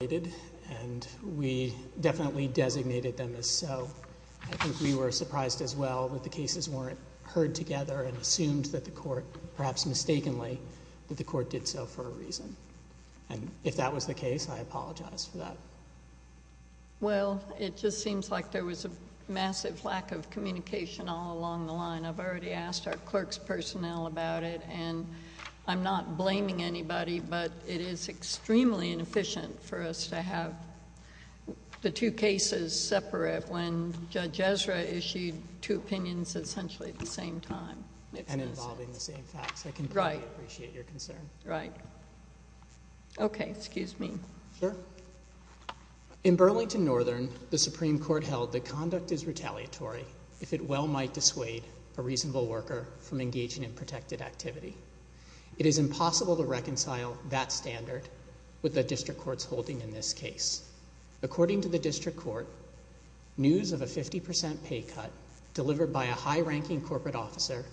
And we definitely designated them as so. I think we were surprised as well that the cases weren't heard together and assumed that the court, perhaps mistakenly, that the court did so for a reason. And if that was the case, I apologize for that. Well, it just seems like there was a massive lack of communication all along the line. And I've already asked our clerk's personnel about it. And I'm not blaming anybody, but it is extremely inefficient for us to have the two cases separate when Judge Ezra issued two opinions essentially at the same time. And involving the same facts. Right. I completely appreciate your concern. Right. Okay. Excuse me. Sure. In Burlington Northern, the Supreme Court held that conduct is retaliatory if it well might dissuade a reasonable worker from engaging in protected activity. It is impossible to reconcile that standard with the district court's holding in this case. According to the district court, news of a 50% pay cut delivered by a high-ranking corporate officer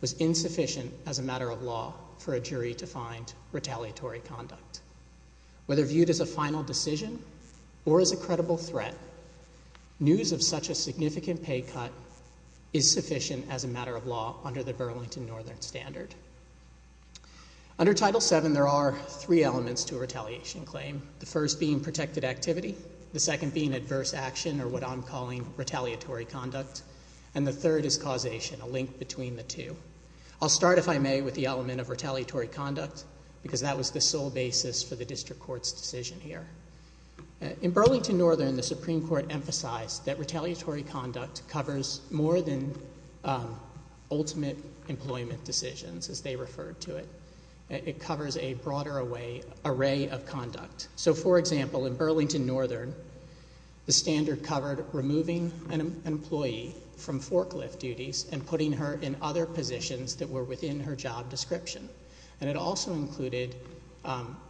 was insufficient as a matter of law for a jury to find retaliatory conduct. Whether viewed as a final decision or as a credible threat, news of such a significant pay cut is sufficient as a matter of law under the Burlington Northern standard. Under Title VII, there are three elements to a retaliation claim. The first being protected activity. The second being adverse action or what I'm calling retaliatory conduct. And the third is causation, a link between the two. I'll start, if I may, with the element of retaliatory conduct because that was the sole basis for the district court's decision here. In Burlington Northern, the Supreme Court emphasized that retaliatory conduct covers more than ultimate employment decisions, as they referred to it. It covers a broader array of conduct. So, for example, in Burlington Northern, the standard covered removing an employee from forklift duties and putting her in other positions that were within her job description. And it also included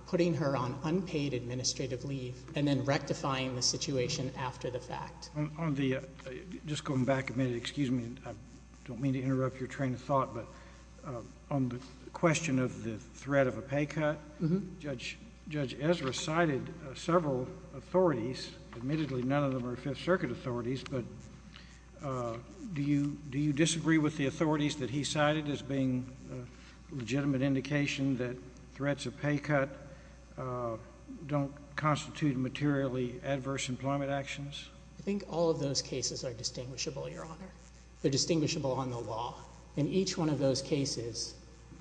putting her on unpaid administrative leave and then rectifying the situation after the fact. Just going back a minute, excuse me. I don't mean to interrupt your train of thought, but on the question of the threat of a pay cut, Judge Ezra cited several authorities. Admittedly, none of them are Fifth Circuit authorities, but do you disagree with the authorities that he cited as being a legitimate indication that threats of pay cut don't constitute materially adverse employment actions? I think all of those cases are distinguishable, Your Honor. They're distinguishable on the law. In each one of those cases,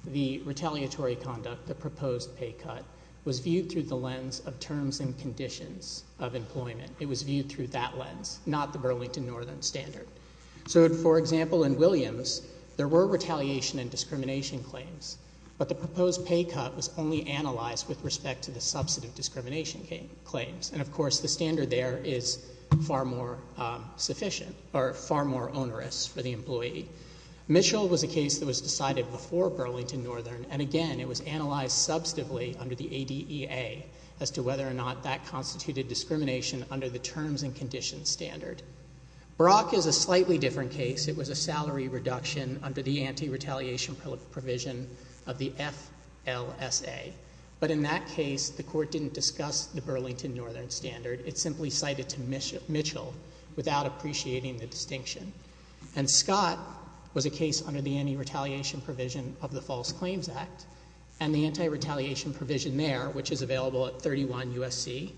the retaliatory conduct, the proposed pay cut, was viewed through the lens of terms and conditions of employment. It was viewed through that lens, not the Burlington Northern standard. So, for example, in Williams, there were retaliation and discrimination claims, but the proposed pay cut was only analyzed with respect to the substantive discrimination claims. And, of course, the standard there is far more sufficient or far more onerous for the employee. Mitchell was a case that was decided before Burlington Northern, and again, it was analyzed substantively under the ADEA as to whether or not that constituted discrimination under the terms and conditions standard. Brock is a slightly different case. It was a salary reduction under the anti-retaliation provision of the FLSA. But in that case, the court didn't discuss the Burlington Northern standard. It simply cited to Mitchell without appreciating the distinction. And Scott was a case under the anti-retaliation provision of the False Claims Act. And the anti-retaliation provision there, which is available at 31 U.S.C.,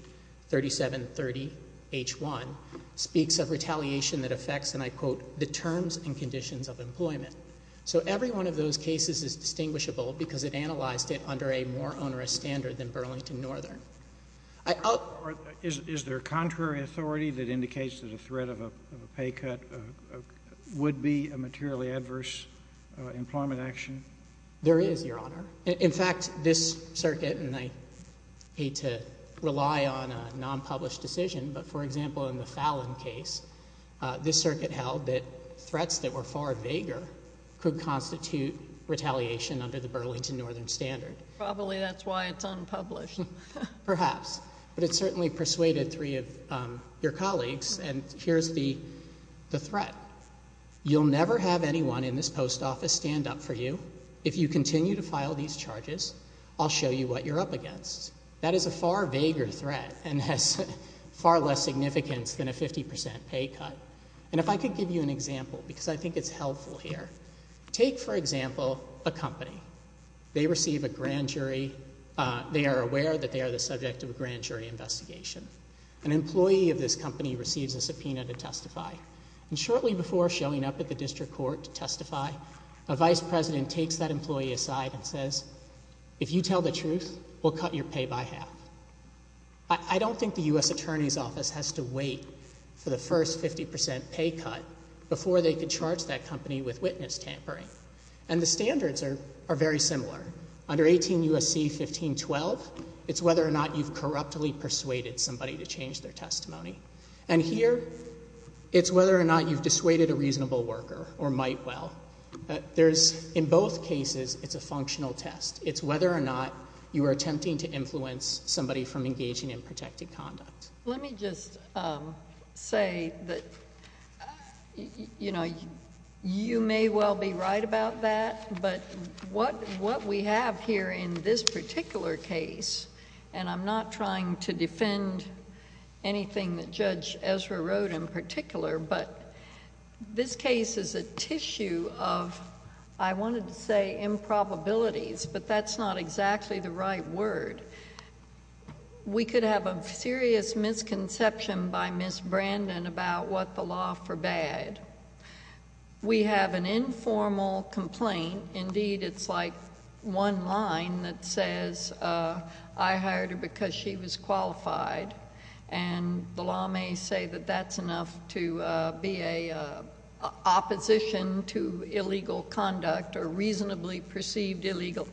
3730H1, speaks of retaliation that affects, and I quote, the terms and conditions of employment. So every one of those cases is distinguishable because it analyzed it under a more onerous standard than Burlington Northern. I — Is there contrary authority that indicates that a threat of a pay cut would be a materially adverse employment action? There is, Your Honor. In fact, this circuit, and I hate to rely on a non-published decision, but for example, in the Fallon case, this circuit held that threats that were far vaguer could constitute retaliation under the Burlington Northern standard. Probably that's why it's unpublished. Perhaps. But it certainly persuaded three of your colleagues. And here's the threat. You'll never have anyone in this post office stand up for you if you continue to file these charges. I'll show you what you're up against. That is a far vaguer threat and has far less significance than a 50 percent pay cut. And if I could give you an example, because I think it's helpful here. Take, for example, a company. They receive a grand jury. They are aware that they are the subject of a grand jury investigation. An employee of this company receives a subpoena to testify. And shortly before showing up at the district court to testify, a vice president takes that employee aside and says, if you tell the truth, we'll cut your pay by half. I don't think the U.S. Attorney's Office has to wait for the first 50 percent pay cut before they can charge that company with witness tampering. And the standards are very similar. Under 18 U.S.C. 1512, it's whether or not you've corruptly persuaded somebody to change their testimony. And here, it's whether or not you've dissuaded a reasonable worker or might well. There's, in both cases, it's a functional test. It's whether or not you are attempting to influence somebody from engaging in protected conduct. Let me just say that, you know, you may well be right about that, but what we have here in this particular case, and I'm not trying to defend anything that Judge Ezra wrote in particular, but this case is a tissue of, I wanted to say, improbabilities, but that's not exactly the right word. We could have a serious misconception by Ms. Brandon about what the law forbade. We have an informal complaint. Indeed, it's like one line that says, I hired her because she was qualified. And the law may say that that's enough to be an opposition to illegal conduct or reasonably perceived illegal.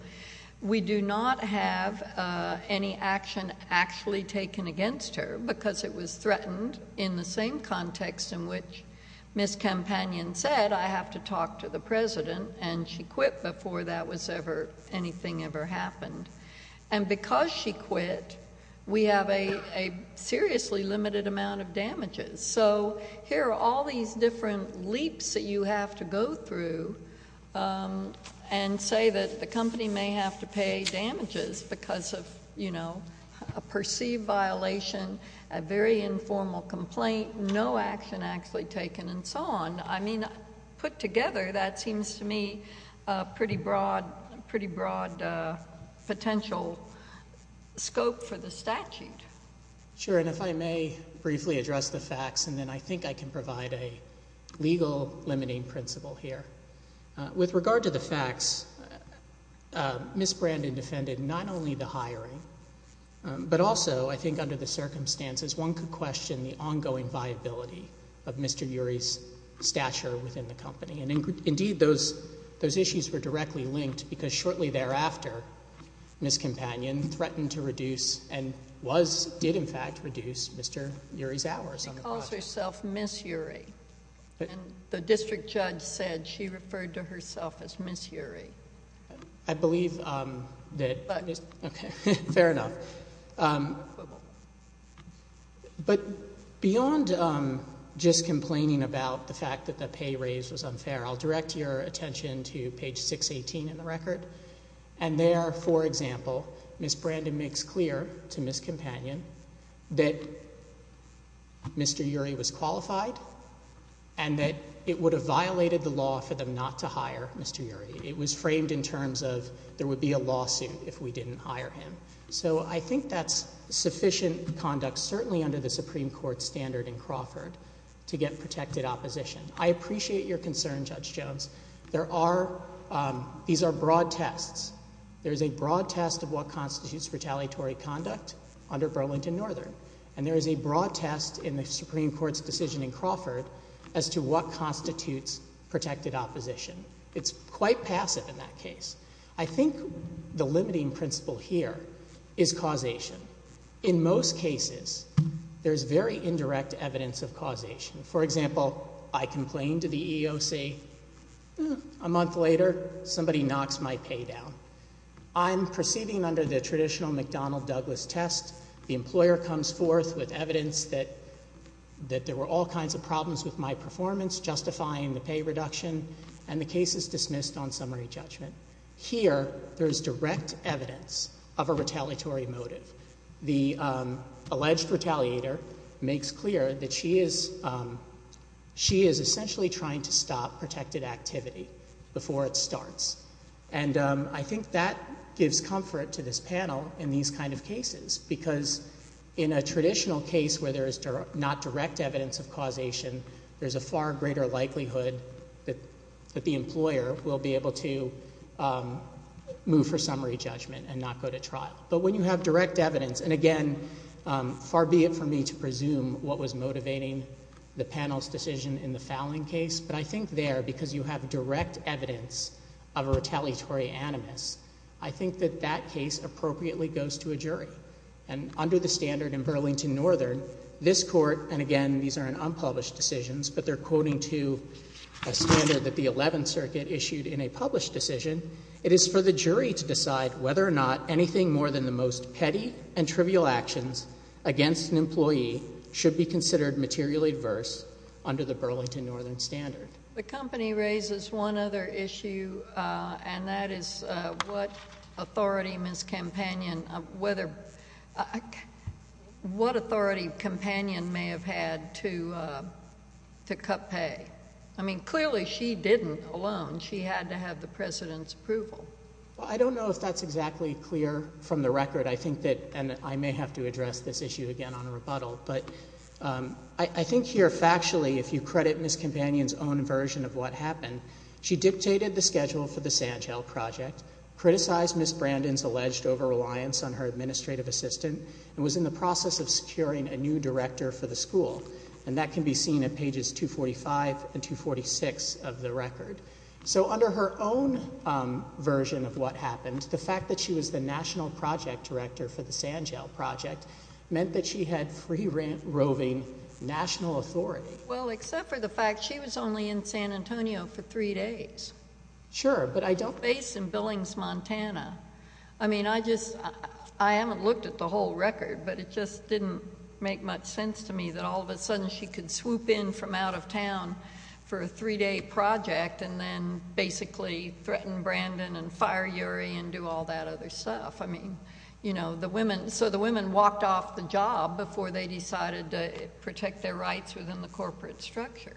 We do not have any action actually taken against her because it was threatened in the same context in which Ms. Campanion said, I have to talk to the president, and she quit before that was ever, anything ever happened. And because she quit, we have a seriously limited amount of damages. So here are all these different leaps that you have to go through and say that the company may have to pay damages because of, you know, a perceived violation, a very informal complaint, no action actually taken, and so on. I mean, put together, that seems to me a pretty broad, pretty broad potential scope for the statute. Sure, and if I may briefly address the facts, and then I think I can provide a legal limiting principle here. With regard to the facts, Ms. Brandon defended not only the hiring, but also I think under the circumstances, one could question the ongoing viability of Mr. Urey's stature within the company. And indeed, those issues were directly linked because shortly thereafter, Ms. Campanion threatened to reduce and was, did in fact reduce Mr. Urey's hours on the project. She calls herself Ms. Urey, and the district judge said she referred to herself as Ms. Urey. I believe that, okay, fair enough. But beyond just complaining about the fact that the pay raise was unfair, I'll direct your attention to page 618 in the record, and there, for example, Ms. Brandon makes clear to Ms. Campanion that Mr. Urey was qualified, and that it would have violated the law for them not to hire Mr. Urey. It was framed in terms of there would be a lawsuit if we didn't hire him. So I think that's sufficient conduct, certainly under the Supreme Court standard in Crawford, to get protected opposition. I appreciate your concern, Judge Jones. There are, these are broad tests. There is a broad test of what constitutes retaliatory conduct under Burlington Northern, and there is a broad test in the Supreme Court's decision in Crawford as to what constitutes protected opposition. It's quite passive in that case. I think the limiting principle here is causation. In most cases, there's very indirect evidence of causation. For example, I complain to the EEOC, a month later, somebody knocks my pay down. I'm proceeding under the traditional McDonnell-Douglas test. The employer comes forth with evidence that there were all kinds of problems with my performance, justifying the pay reduction, and the case is dismissed on summary judgment. Here, there is direct evidence of a retaliatory motive. The alleged retaliator makes clear that she is essentially trying to stop protected activity before it starts. And I think that gives comfort to this panel in these kind of cases, because in a traditional case where there is not direct evidence of causation, there's a far greater likelihood that the employer will be able to move for summary judgment and not go to trial. But when you have direct evidence, and again, far be it for me to presume what was motivating the panel's decision in the Fallon case, but I think there, because you have direct evidence of a retaliatory animus, I think that that case appropriately goes to a jury. And under the standard in Burlington Northern, this Court, and again, these are in unpublished decisions, but they're quoting to a standard that the Eleventh Circuit issued in a published decision, it is for the jury to decide whether or not anything more than the most petty and trivial actions against an employee should be considered materially adverse under the Burlington Northern standard. The company raises one other issue, and that is what authority Ms. Campanion may have had to cut pay. I mean, clearly she didn't alone. She had to have the President's approval. Well, I don't know if that's exactly clear from the record. I think that, and I may have to address this issue again on a rebuttal, but I think here factually, if you credit Ms. Campanion's own version of what happened, she dictated the schedule for the Sand Gel project, criticized Ms. Brandon's alleged over-reliance on her administrative assistant, and was in the process of securing a new director for the school, and that can be seen at pages 245 and 246 of the record. So under her own version of what happened, the fact that she was the national project director for the Sand Gel project meant that she had free-roving national authority. Well, except for the fact she was only in San Antonio for three days. Sure, but I don't – Based in Billings, Montana. I mean, I just – I haven't looked at the whole record, but it just didn't make much sense to me that all of a sudden she could swoop in from out of town for a three-day project and then basically threaten Brandon and fire Urey and do all that other stuff. I mean, you know, the women – so the women walked off the job before they decided to protect their rights within the corporate structure.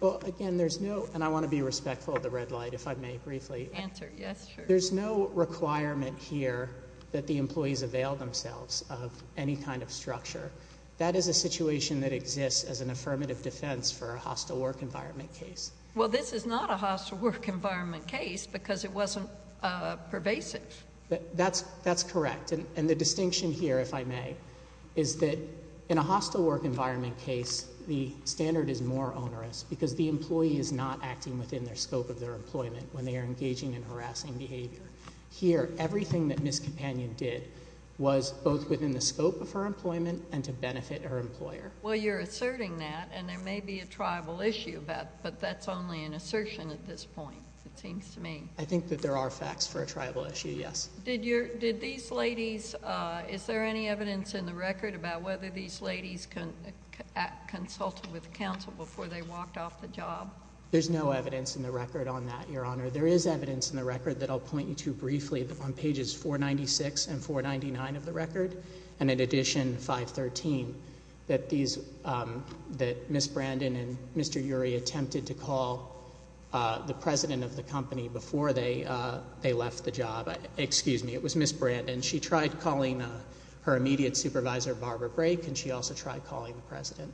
Well, again, there's no – and I want to be respectful of the red light, if I may briefly. Answer, yes, sure. There's no requirement here that the employees avail themselves of any kind of structure. That is a situation that exists as an affirmative defense for a hostile work environment case. Well, this is not a hostile work environment case because it wasn't pervasive. That's correct, and the distinction here, if I may, is that in a hostile work environment case, the standard is more onerous because the employee is not acting within their scope of their employment when they are engaging in harassing behavior. Here, everything that Ms. Companion did was both within the scope of her employment and to benefit her employer. Well, you're asserting that, and there may be a tribal issue about it, but that's only an assertion at this point, it seems to me. I think that there are facts for a tribal issue, yes. Did these ladies – is there any evidence in the record about whether these ladies consulted with counsel before they walked off the job? There's no evidence in the record on that, Your Honor. There is evidence in the record that I'll point you to briefly on pages 496 and 499 of the record, and in addition, 513, that Ms. Brandon and Mr. Urey attempted to call the president of the company before they left the job. Excuse me, it was Ms. Brandon. She tried calling her immediate supervisor, Barbara Brake, and she also tried calling the president.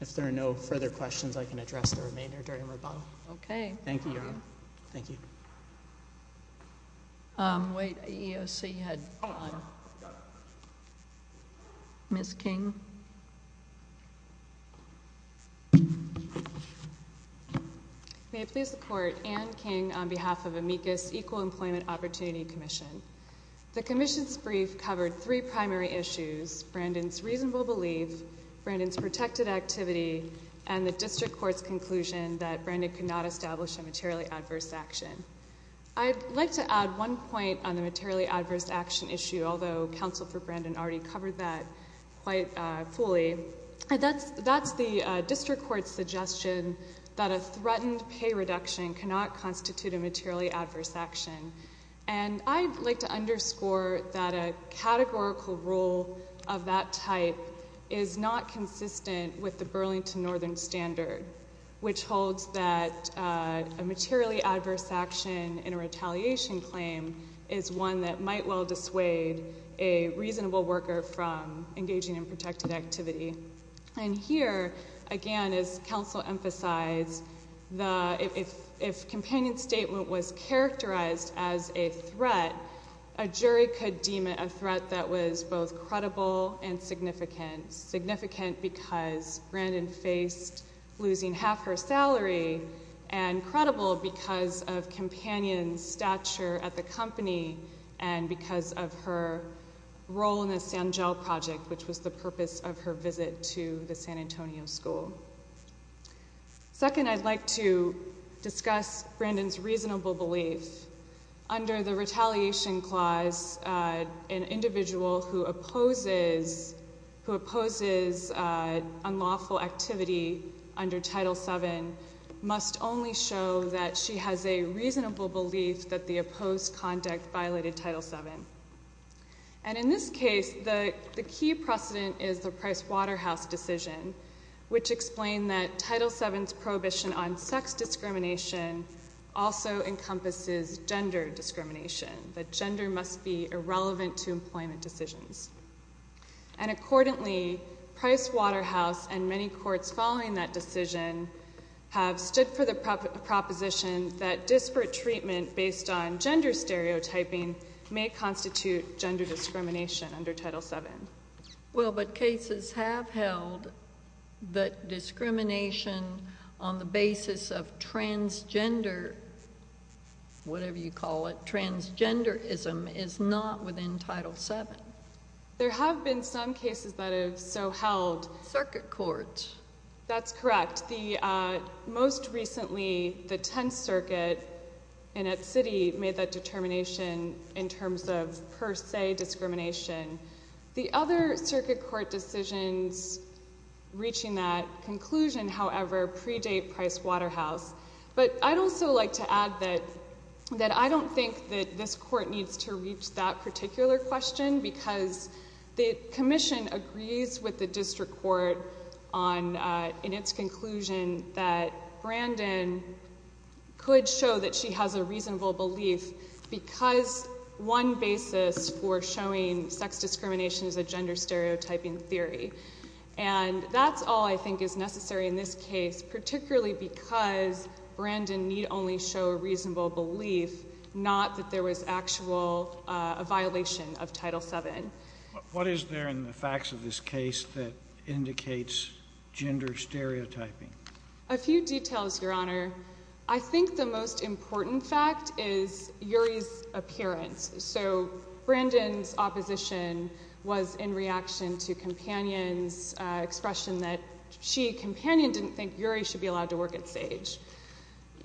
If there are no further questions, I can address the remainder during rebuttal. Okay. Thank you, Your Honor. Thank you. Wait, EEOC had gone. Ms. King. May it please the Court and King on behalf of Amicus Equal Employment Opportunity Commission. The commission's brief covered three primary issues, Brandon's reasonable belief, Brandon's protected activity, and the district court's conclusion that Brandon could not establish a materially adverse action. I'd like to add one point on the materially adverse action issue, although Counsel for Brandon already covered that quite fully. That's the district court's suggestion that a threatened pay reduction cannot constitute a materially adverse action, and I'd like to underscore that a categorical rule of that type is not consistent with the Burlington Northern Standard, which holds that a materially adverse action in a retaliation claim is one that might well dissuade a reasonable worker from engaging in protected activity. And here, again, as Counsel emphasized, if companion statement was characterized as a threat, a jury could deem it a threat that was both credible and significant. Significant because Brandon faced losing half her salary, and credible because of companion's stature at the company, and because of her role in the Sangel project, which was the purpose of her visit to the San Antonio school. Second, I'd like to discuss Brandon's reasonable belief. Under the retaliation clause, an individual who opposes unlawful activity under Title VII must only show that she has a reasonable belief that the opposed conduct violated Title VII. And in this case, the key precedent is the Price-Waterhouse decision, which explained that Title VII's prohibition on sex discrimination also encompasses gender discrimination, that gender must be irrelevant to employment decisions. And accordingly, Price-Waterhouse and many courts following that decision have stood for the proposition that disparate treatment based on gender stereotyping may constitute gender discrimination under Title VII. Well, but cases have held that discrimination on the basis of transgender, whatever you call it, there have been some cases that have so held. Circuit court. That's correct. Most recently, the Tenth Circuit in its city made that determination in terms of per se discrimination. The other circuit court decisions reaching that conclusion, however, predate Price-Waterhouse. But I'd also like to add that I don't think that this court needs to reach that particular question because the commission agrees with the district court in its conclusion that Brandon could show that she has a reasonable belief because one basis for showing sex discrimination is a gender stereotyping theory. And that's all I think is necessary in this case, particularly because Brandon need only show a reasonable belief, not that there was actual violation of Title VII. What is there in the facts of this case that indicates gender stereotyping? A few details, Your Honor. I think the most important fact is Uri's appearance. So Brandon's opposition was in reaction to Companion's expression that she, Companion, didn't think Uri should be allowed to work at SAGE.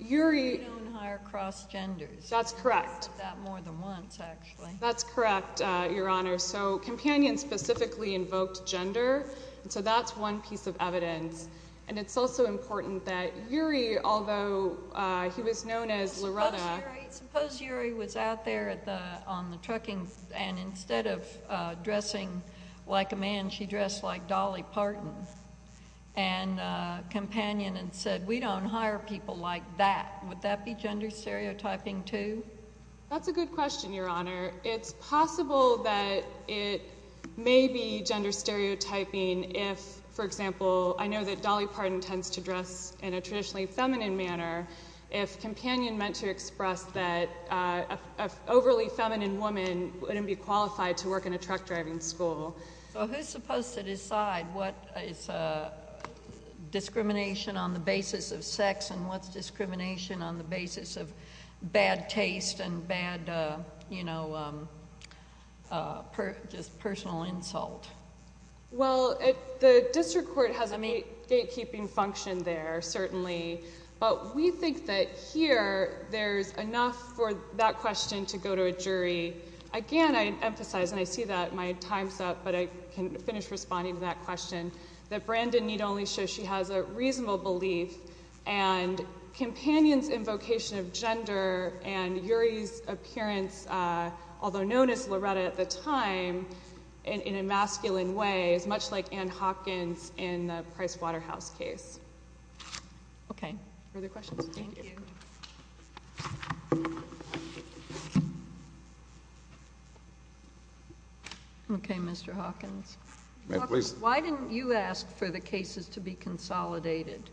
Uri. We've known her across genders. That's correct. That more than once, actually. That's correct, Your Honor. So Companion specifically invoked gender, and so that's one piece of evidence. Suppose Uri was out there on the trucking, and instead of dressing like a man, she dressed like Dolly Parton and Companion, and said, we don't hire people like that. Would that be gender stereotyping, too? That's a good question, Your Honor. It's possible that it may be gender stereotyping if, for example, I know that Dolly Parton tends to dress in a traditionally feminine manner. If Companion meant to express that an overly feminine woman wouldn't be qualified to work in a truck driving school. So who's supposed to decide what is discrimination on the basis of sex and what's discrimination on the basis of bad taste and bad, you know, just personal insult? Well, the district court has a gatekeeping function there, certainly. But we think that here there's enough for that question to go to a jury. Again, I emphasize, and I see that my time's up, but I can finish responding to that question, that Brandon need only show she has a reasonable belief. And Companion's invocation of gender and Uri's appearance, although known as Loretta at the time, in a masculine way is much like Ann Hawkins in the Price Waterhouse case. Okay. Further questions? Thank you. Okay, Mr. Hawkins. May I please? Why didn't you ask for the cases to be consolidated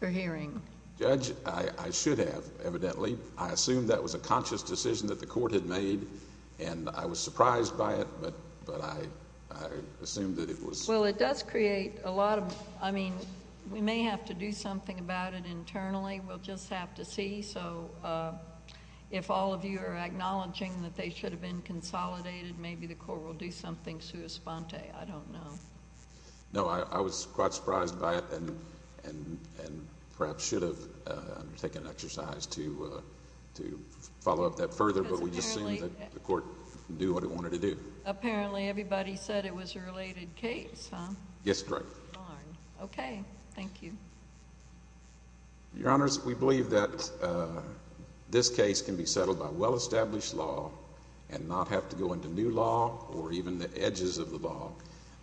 for hearing? Judge, I should have, evidently. I assumed that was a conscious decision that the court had made, and I was surprised by it, but I assumed that it was. Well, it does create a lot of, I mean, we may have to do something about it internally. We'll just have to see. So if all of you are acknowledging that they should have been consolidated, maybe the court will do something sua sponte. I don't know. No, I was quite surprised by it and perhaps should have taken an exercise to follow up that further, but we just assumed that the court knew what it wanted to do. Apparently everybody said it was a related case, huh? Yes, correct. Okay. Thank you. Your Honors, we believe that this case can be settled by well-established law and not have to go into new law or even the edges of the law.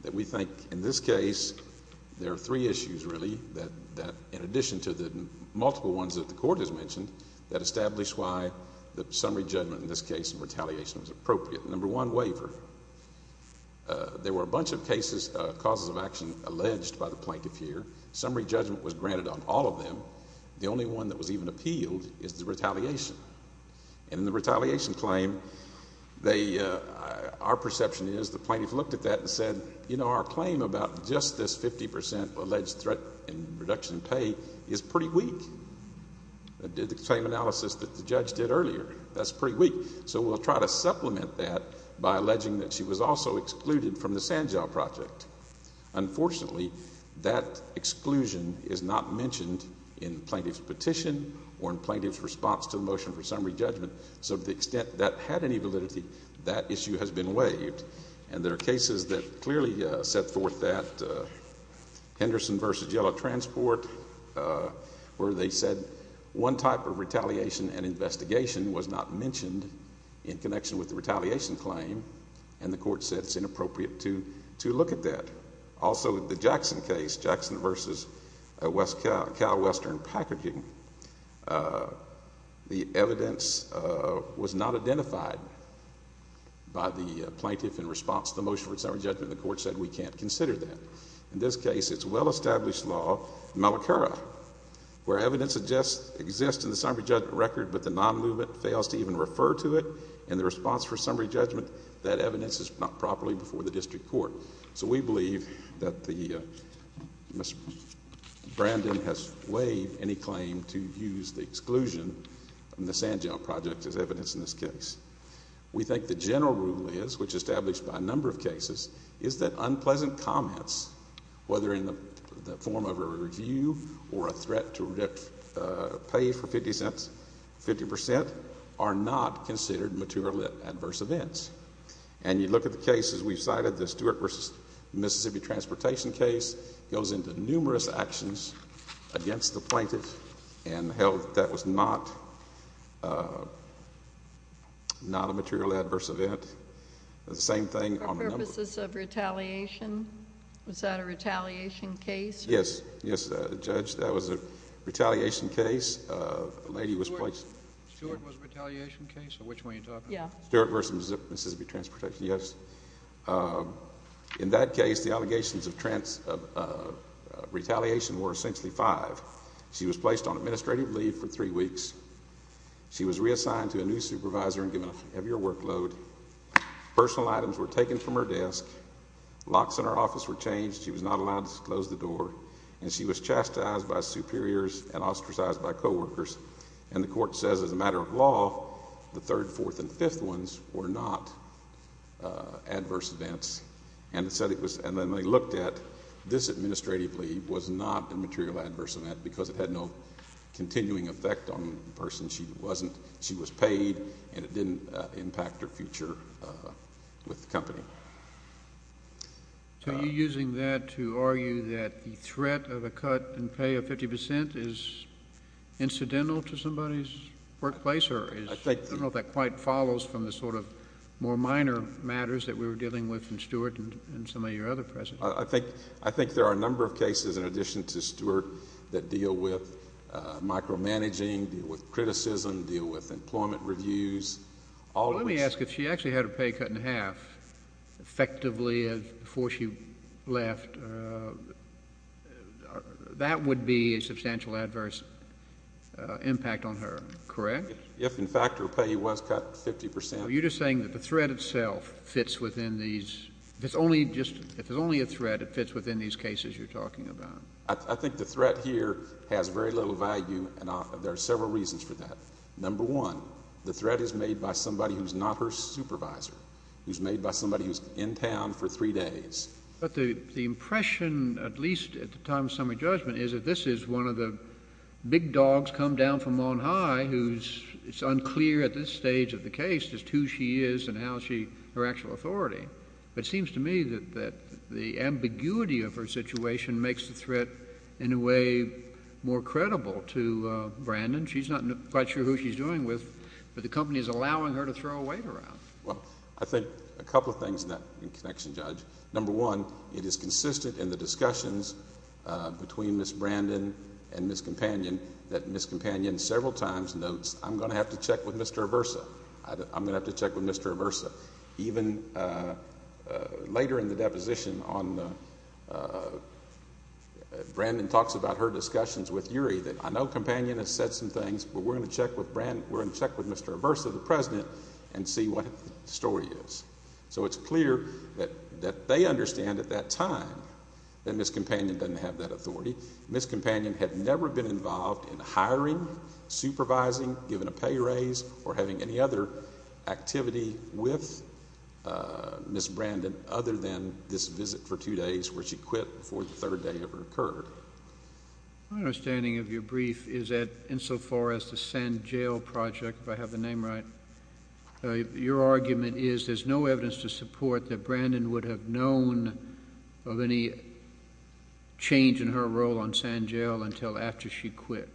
That we think, in this case, there are three issues really that, in addition to the multiple ones that the court has mentioned, that establish why the summary judgment in this case in retaliation was appropriate. Number one, waiver. There were a bunch of cases, causes of action, alleged by the plaintiff here. Summary judgment was granted on all of them. The only one that was even appealed is the retaliation. And in the retaliation claim, our perception is the plaintiff looked at that and said, you know, our claim about just this 50% alleged threat in reduction in pay is pretty weak. It did the same analysis that the judge did earlier. That's pretty weak. So we'll try to supplement that by alleging that she was also excluded from the Sandjaw Project. Unfortunately, that exclusion is not mentioned in the plaintiff's petition or in plaintiff's response to the motion for summary judgment. So to the extent that had any validity, that issue has been waived. And there are cases that clearly set forth that. Henderson v. Yellow Transport, where they said one type of retaliation and investigation was not mentioned in connection with the retaliation claim. And the court said it's inappropriate to look at that. Also, the Jackson case, Jackson v. CalWestern Packaging, the evidence was not identified by the plaintiff in response to the motion for summary judgment. The court said we can't consider that. In this case, it's well-established law, Malacara, where evidence exists in the summary judgment record, but the non-movement fails to even refer to it in the response for summary judgment. That evidence is not properly before the district court. So we believe that Mr. Brandon has waived any claim to use the exclusion in the Sandjaw Project as evidence in this case. We think the general rule is, which is established by a number of cases, is that unpleasant comments, whether in the form of a review or a threat to pay for 50 cents, 50 percent, are not considered mature lit adverse events. And you look at the cases we've cited, the Stewart v. Mississippi Transportation case goes into numerous actions against the plaintiff and held that that was not a mature lit adverse event. The same thing on a number of cases. For purposes of retaliation? Was that a retaliation case? Yes. Yes, Judge, that was a retaliation case. The lady was placed. Stewart was a retaliation case? Which one are you talking about? Stewart v. Mississippi Transportation, yes. In that case, the allegations of retaliation were essentially five. She was placed on administrative leave for three weeks. She was reassigned to a new supervisor and given a heavier workload. Personal items were taken from her desk. Locks in her office were changed. She was not allowed to close the door. And she was chastised by superiors and ostracized by coworkers. And the Court says as a matter of law, the third, fourth, and fifth ones were not adverse events. And it said it was. And then they looked at this administrative leave was not a material adverse event because it had no continuing effect on the person. She wasn't. She was paid. And it didn't impact her future with the company. So you're using that to argue that the threat of a cut in pay of 50 percent is incidental to somebody's workplace? I don't know if that quite follows from the sort of more minor matters that we were dealing with in Stewart and some of your other precedents. I think there are a number of cases in addition to Stewart that deal with micromanaging, deal with criticism, deal with employment reviews. Let me ask if she actually had her pay cut in half effectively before she left, that would be a substantial adverse impact on her, correct? If, in fact, her pay was cut 50 percent. Are you just saying that the threat itself fits within these? If it's only a threat, it fits within these cases you're talking about? I think the threat here has very little value, and there are several reasons for that. Number one, the threat is made by somebody who's not her supervisor, who's made by somebody who's in town for three days. But the impression, at least at the time of summary judgment, is that this is one of the big dogs come down from on high who's unclear at this stage of the case just who she is and how she—her actual authority. It seems to me that the ambiguity of her situation makes the threat in a way more credible to Brandon. She's not quite sure who she's dealing with, but the company is allowing her to throw a weight around. Well, I think a couple of things in that connection, Judge. Number one, it is consistent in the discussions between Ms. Brandon and Ms. Companion that Ms. Companion several times notes, I'm going to have to check with Mr. Aversa. I'm going to have to check with Mr. Aversa. Even later in the deposition, Brandon talks about her discussions with Yuri that I know Companion has said some things, but we're going to check with Mr. Aversa, the president, and see what the story is. So it's clear that they understand at that time that Ms. Companion doesn't have that authority. Ms. Companion had never been involved in hiring, supervising, giving a pay raise, or having any other activity with Ms. Brandon other than this visit for two days where she quit before the third day ever occurred. My understanding of your brief is that insofar as the Sand Jail Project, if I have the name right, your argument is there's no evidence to support that Brandon would have known of any change in her role on Sand Jail until after she quit.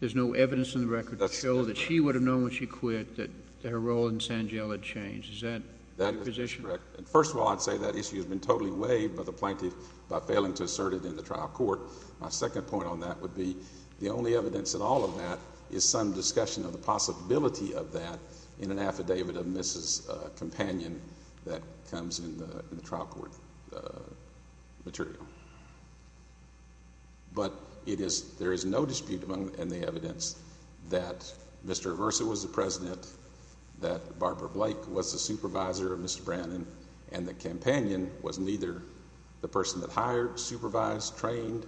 There's no evidence in the record to show that she would have known when she quit that her role in Sand Jail had changed. Is that your position? First of all, I'd say that issue has been totally weighed by the plaintiff by failing to assert it in the trial court. My second point on that would be the only evidence in all of that is some discussion of the possibility of that in an affidavit of Ms. Companion that comes in the trial court material. But there is no dispute in the evidence that Mr. Iversa was the president, that Barbara Blake was the supervisor of Mr. Brandon, and that Companion was neither the person that hired, supervised, trained,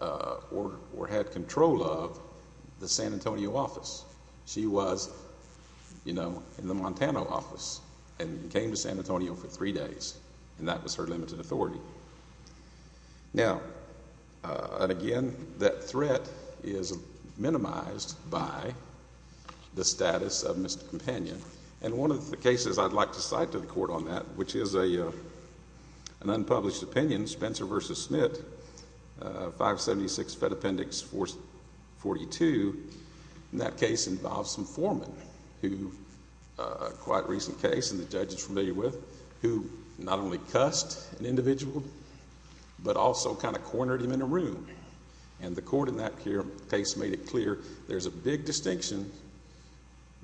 or had control of the San Antonio office. She was, you know, in the Montana office and came to San Antonio for three days and that was her limited authority. Now, and again, that threat is minimized by the status of Ms. Companion. And one of the cases I'd like to cite to the court on that, which is an unpublished opinion, Spencer v. Smith, 576 Fed Appendix 442. And that case involves some foremen who, a quite recent case and the judge is familiar with, who not only cussed an individual, but also kind of cornered him in a room. And the court in that case made it clear there's a big distinction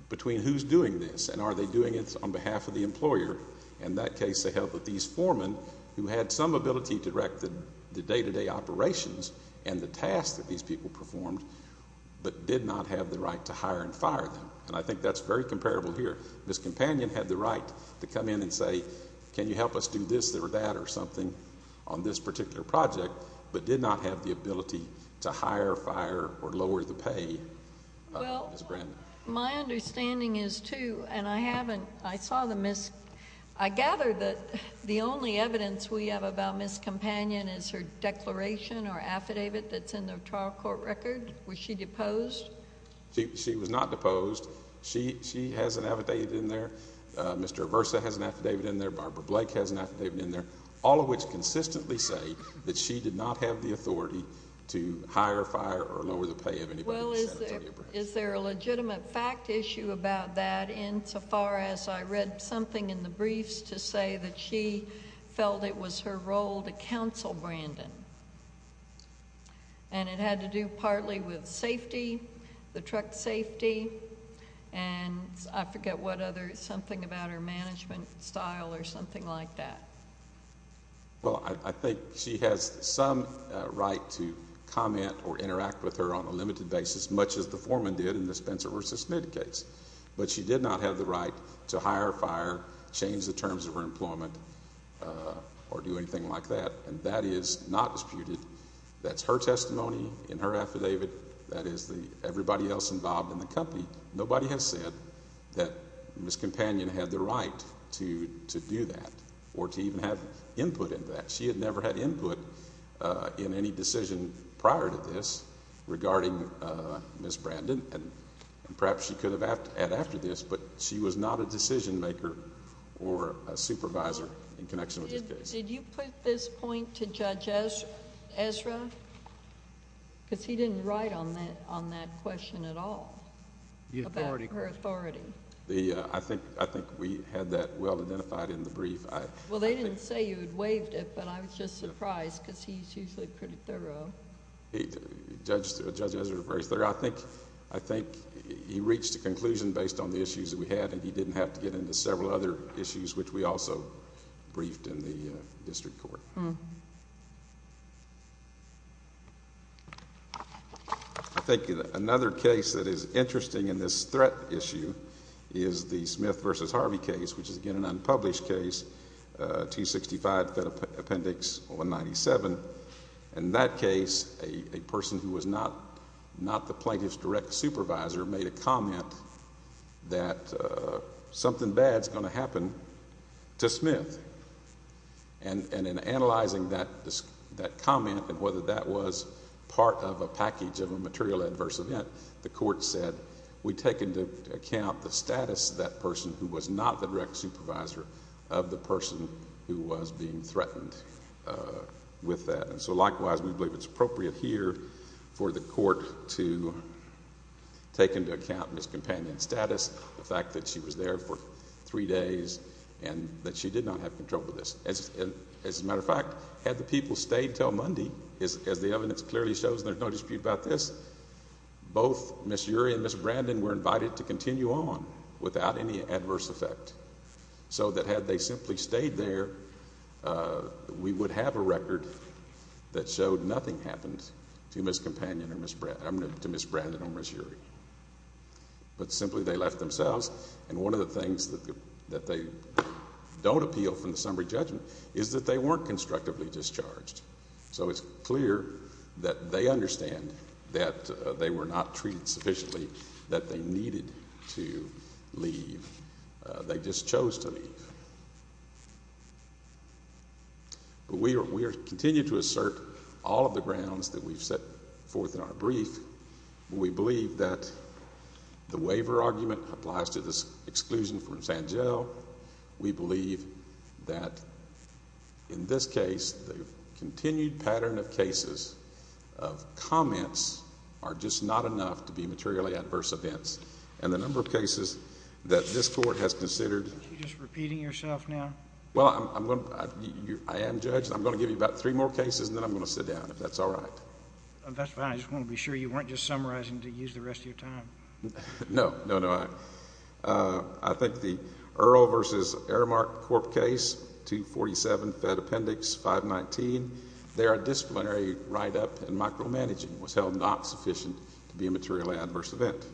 between who's doing this and are they doing it on behalf of the employer. In that case, they help with these foremen who had some ability to direct the day-to-day operations and the tasks that these people performed, but did not have the right to hire and fire them. And I think that's very comparable here. Ms. Companion had the right to come in and say, can you help us do this or that or something on this particular project, but did not have the ability to hire, fire, or lower the pay of Ms. Brandon. My understanding is, too, and I haven't, I saw the Ms. I gather that the only evidence we have about Ms. Companion is her declaration or affidavit that's in the trial court record. Was she deposed? She was not deposed. She has an affidavit in there. Mr. Aversa has an affidavit in there. Barbara Blake has an affidavit in there, all of which consistently say that she did not have the authority to hire, fire, or lower the pay of anybody. Well, is there a legitimate fact issue about that insofar as I read something in the briefs to say that she felt it was her role to counsel Brandon? And it had to do partly with safety, the truck safety, and I forget what other, something about her management style or something like that. Well, I think she has some right to comment or interact with her on a limited basis, much as the foreman did in the Spencer v. Smith case. But she did not have the right to hire, fire, change the terms of her employment, or do anything like that. And that is not disputed. That's her testimony in her affidavit. That is everybody else involved in the company. Nobody has said that Ms. Companion had the right to do that or to even have input into that. She had never had input in any decision prior to this regarding Ms. Brandon. And perhaps she could have had after this, but she was not a decision maker or a supervisor in connection with this case. Did you put this point to Judge Ezra? Because he didn't write on that question at all about her authority. I think we had that well identified in the brief. Well, they didn't say you had waived it, but I was just surprised because he's usually pretty thorough. Judge Ezra is very thorough. I think he reached a conclusion based on the issues that we had, and he didn't have to get into several other issues, which we also briefed in the district court. Thank you. Another case that is interesting in this threat issue is the Smith v. Harvey case, which is, again, an unpublished case, 265 Fed Appendix 197. In that case, a person who was not the plaintiff's direct supervisor made a comment that something bad is going to happen to Smith. And in analyzing that comment and whether that was part of a package of a material adverse event, the court said, we take into account the status of that person who was not the direct supervisor of the person who was being threatened with that. And so, likewise, we believe it's appropriate here for the court to take into account Ms. Companion's status, the fact that she was there for three days and that she did not have control of this. As a matter of fact, had the people stayed until Monday, as the evidence clearly shows, there's no dispute about this, both Ms. Urie and Ms. Brandon were invited to continue on without any adverse effect. So that had they simply stayed there, we would have a record that showed nothing happened to Ms. Brandon or Ms. Urie. But simply they left themselves. And one of the things that they don't appeal from the summary judgment is that they weren't constructively discharged. So it's clear that they understand that they were not treated sufficiently, that they needed to leave. They just chose to leave. But we continue to assert all of the grounds that we've set forth in our brief. We believe that the waiver argument applies to this exclusion from Sangell. We believe that, in this case, the continued pattern of cases of comments are just not enough to be materially adverse events. And the number of cases that this court has considered... Aren't you just repeating yourself now? Well, I am, Judge. I'm going to give you about three more cases and then I'm going to sit down, if that's all right. That's fine. I just want to be sure you weren't just summarizing to use the rest of your time. No, no, no. I think the Earl v. Aramark Corp. case, 247 Fed Appendix 519, their disciplinary write-up and micromanaging was held not sufficient to be a materially adverse event.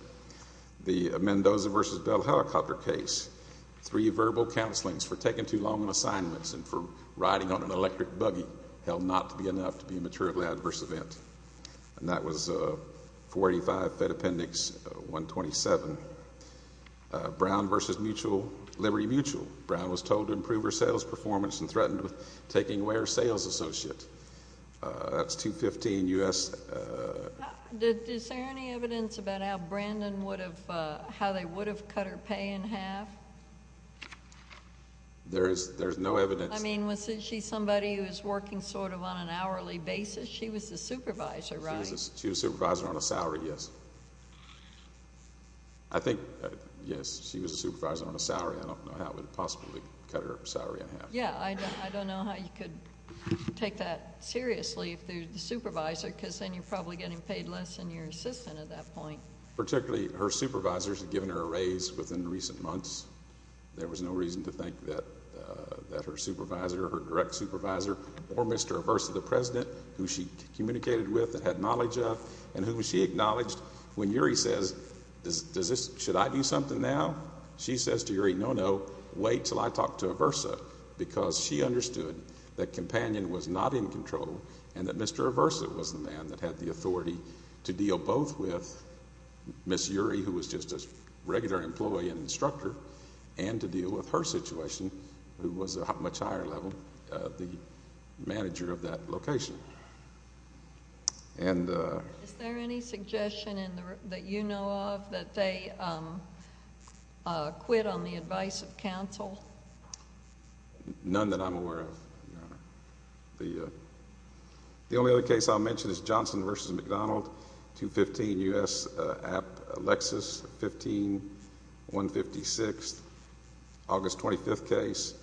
The Mendoza v. Bell Helicopter case, three verbal counselings for taking too long on assignments and for riding on an electric buggy held not to be enough to be a materially adverse event. And that was 485 Fed Appendix 127. Brown v. Liberty Mutual. Brown was told to improve her sales performance and threatened with taking away her sales associate. That's 215 U.S.... Is there any evidence about how Brandon would have... how they would have cut her pay in half? There is no evidence. I mean, was she somebody who was working sort of on an hourly basis? She was a supervisor, right? She was a supervisor on a salary, yes. I think, yes, she was a supervisor on a salary. I don't know how it would have possibly cut her salary in half. Yeah, I don't know how you could take that seriously if they're the supervisor, because then you're probably getting paid less than your assistant at that point. Particularly, her supervisors had given her a raise within recent months. There was no reason to think that her supervisor, her direct supervisor, or Mr. Aversa, the president, who she communicated with and had knowledge of and who she acknowledged. When Uri says, should I do something now? She says to Uri, no, no, wait until I talk to Aversa, because she understood that Companion was not in control and that Mr. Aversa was the man that had the authority to deal both with Ms. Uri, who was just a regular employee and instructor, and to deal with her situation, who was at a much higher level, the manager of that location. Is there any suggestion that you know of that they quit on the advice of counsel? The only other case I'll mention is Johnson v. McDonald, 215 U.S. App, Lexus, 15, 156, August 25th case.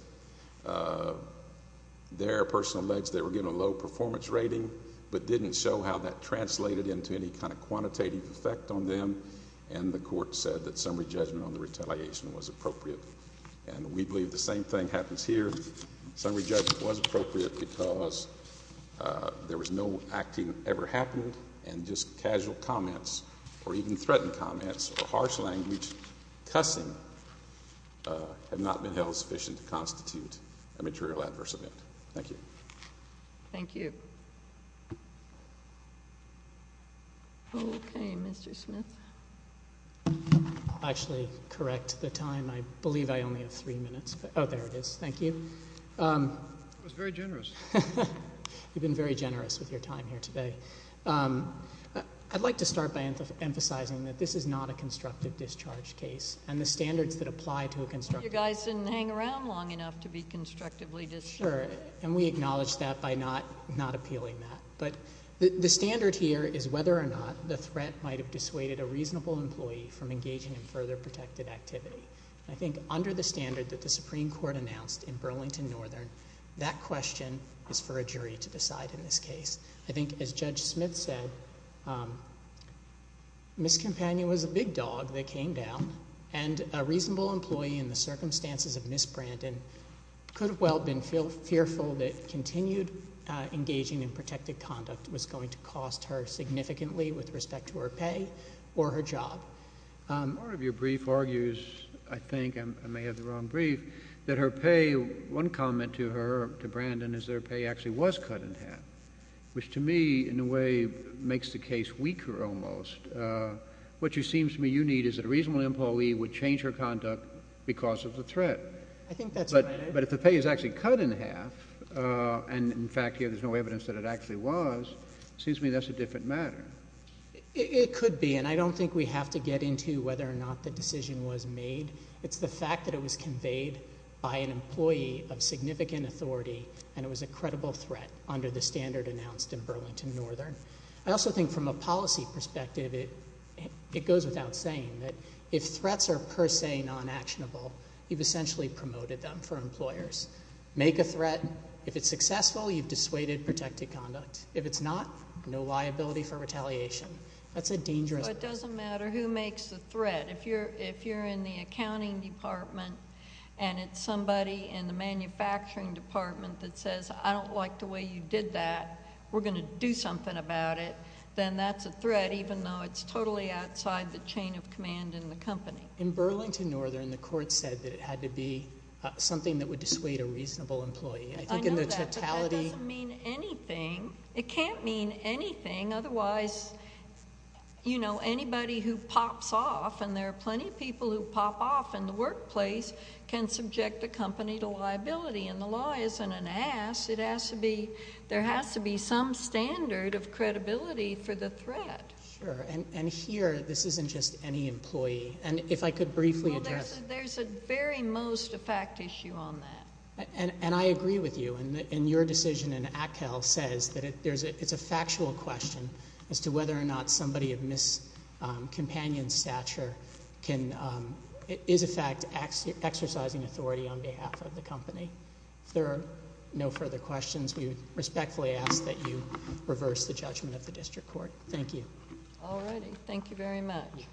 There, a person alleged they were given a low performance rating, but didn't show how that translated into any kind of quantitative effect on them, and the court said that summary judgment on the retaliation was appropriate, and we believe the same thing happens here. Summary judgment was appropriate because there was no acting that ever happened, and just casual comments or even threatened comments or harsh language, cussing, have not been held sufficient to constitute a material adverse event. Thank you. Thank you. Okay, Mr. Smith. I'll actually correct the time. I believe I only have three minutes. Oh, there it is. Thank you. That was very generous. You've been very generous with your time here today. I'd like to start by emphasizing that this is not a constructive discharge case, and the standards that apply to a constructive discharge case. You guys didn't hang around long enough to be constructively discharged. Sure, and we acknowledge that by not appealing that. But the standard here is whether or not the threat might have dissuaded a reasonable employee from engaging in further protected activity. I think under the standard that the Supreme Court announced in Burlington Northern, that question is for a jury to decide in this case. I think, as Judge Smith said, Ms. Campagna was a big dog that came down, and a reasonable employee in the circumstances of Ms. Brandon could have well been fearful that continued engaging in protected conduct was going to cost her significantly with respect to her pay or her job. Part of your brief argues, I think, I may have the wrong brief, that her pay, one comment to her, to Brandon, is their pay actually was cut in half, which to me in a way makes the case weaker almost. What it seems to me you need is that a reasonable employee would change her conduct because of the threat. I think that's right. But if the pay is actually cut in half, and in fact here there's no evidence that it actually was, it seems to me that's a different matter. It could be, and I don't think we have to get into whether or not the decision was made. It's the fact that it was conveyed by an employee of significant authority, and it was a credible threat under the standard announced in Burlington Northern. I also think from a policy perspective it goes without saying that if threats are per se non-actionable, you've essentially promoted them for employers. Make a threat. If it's successful, you've dissuaded protected conduct. If it's not, no liability for retaliation. That's a dangerous threat. It doesn't matter who makes the threat. If you're in the accounting department and it's somebody in the manufacturing department that says, I don't like the way you did that, we're going to do something about it, then that's a threat even though it's totally outside the chain of command in the company. In Burlington Northern the court said that it had to be something that would dissuade a reasonable employee. I think in the totality. I know that, but that doesn't mean anything. It can't mean anything. Otherwise, you know, anybody who pops off, and there are plenty of people who pop off in the workplace, can subject a company to liability, and the law isn't an ass. It has to be, there has to be some standard of credibility for the threat. Sure, and here this isn't just any employee. And if I could briefly address. Well, there's at very most a fact issue on that. And I agree with you, and your decision in Atkel says that it's a factual question as to whether or not somebody of miscompanioned stature is in fact exercising authority on behalf of the company. If there are no further questions, we respectfully ask that you reverse the judgment of the district court. Thank you. All righty. Thank you very much.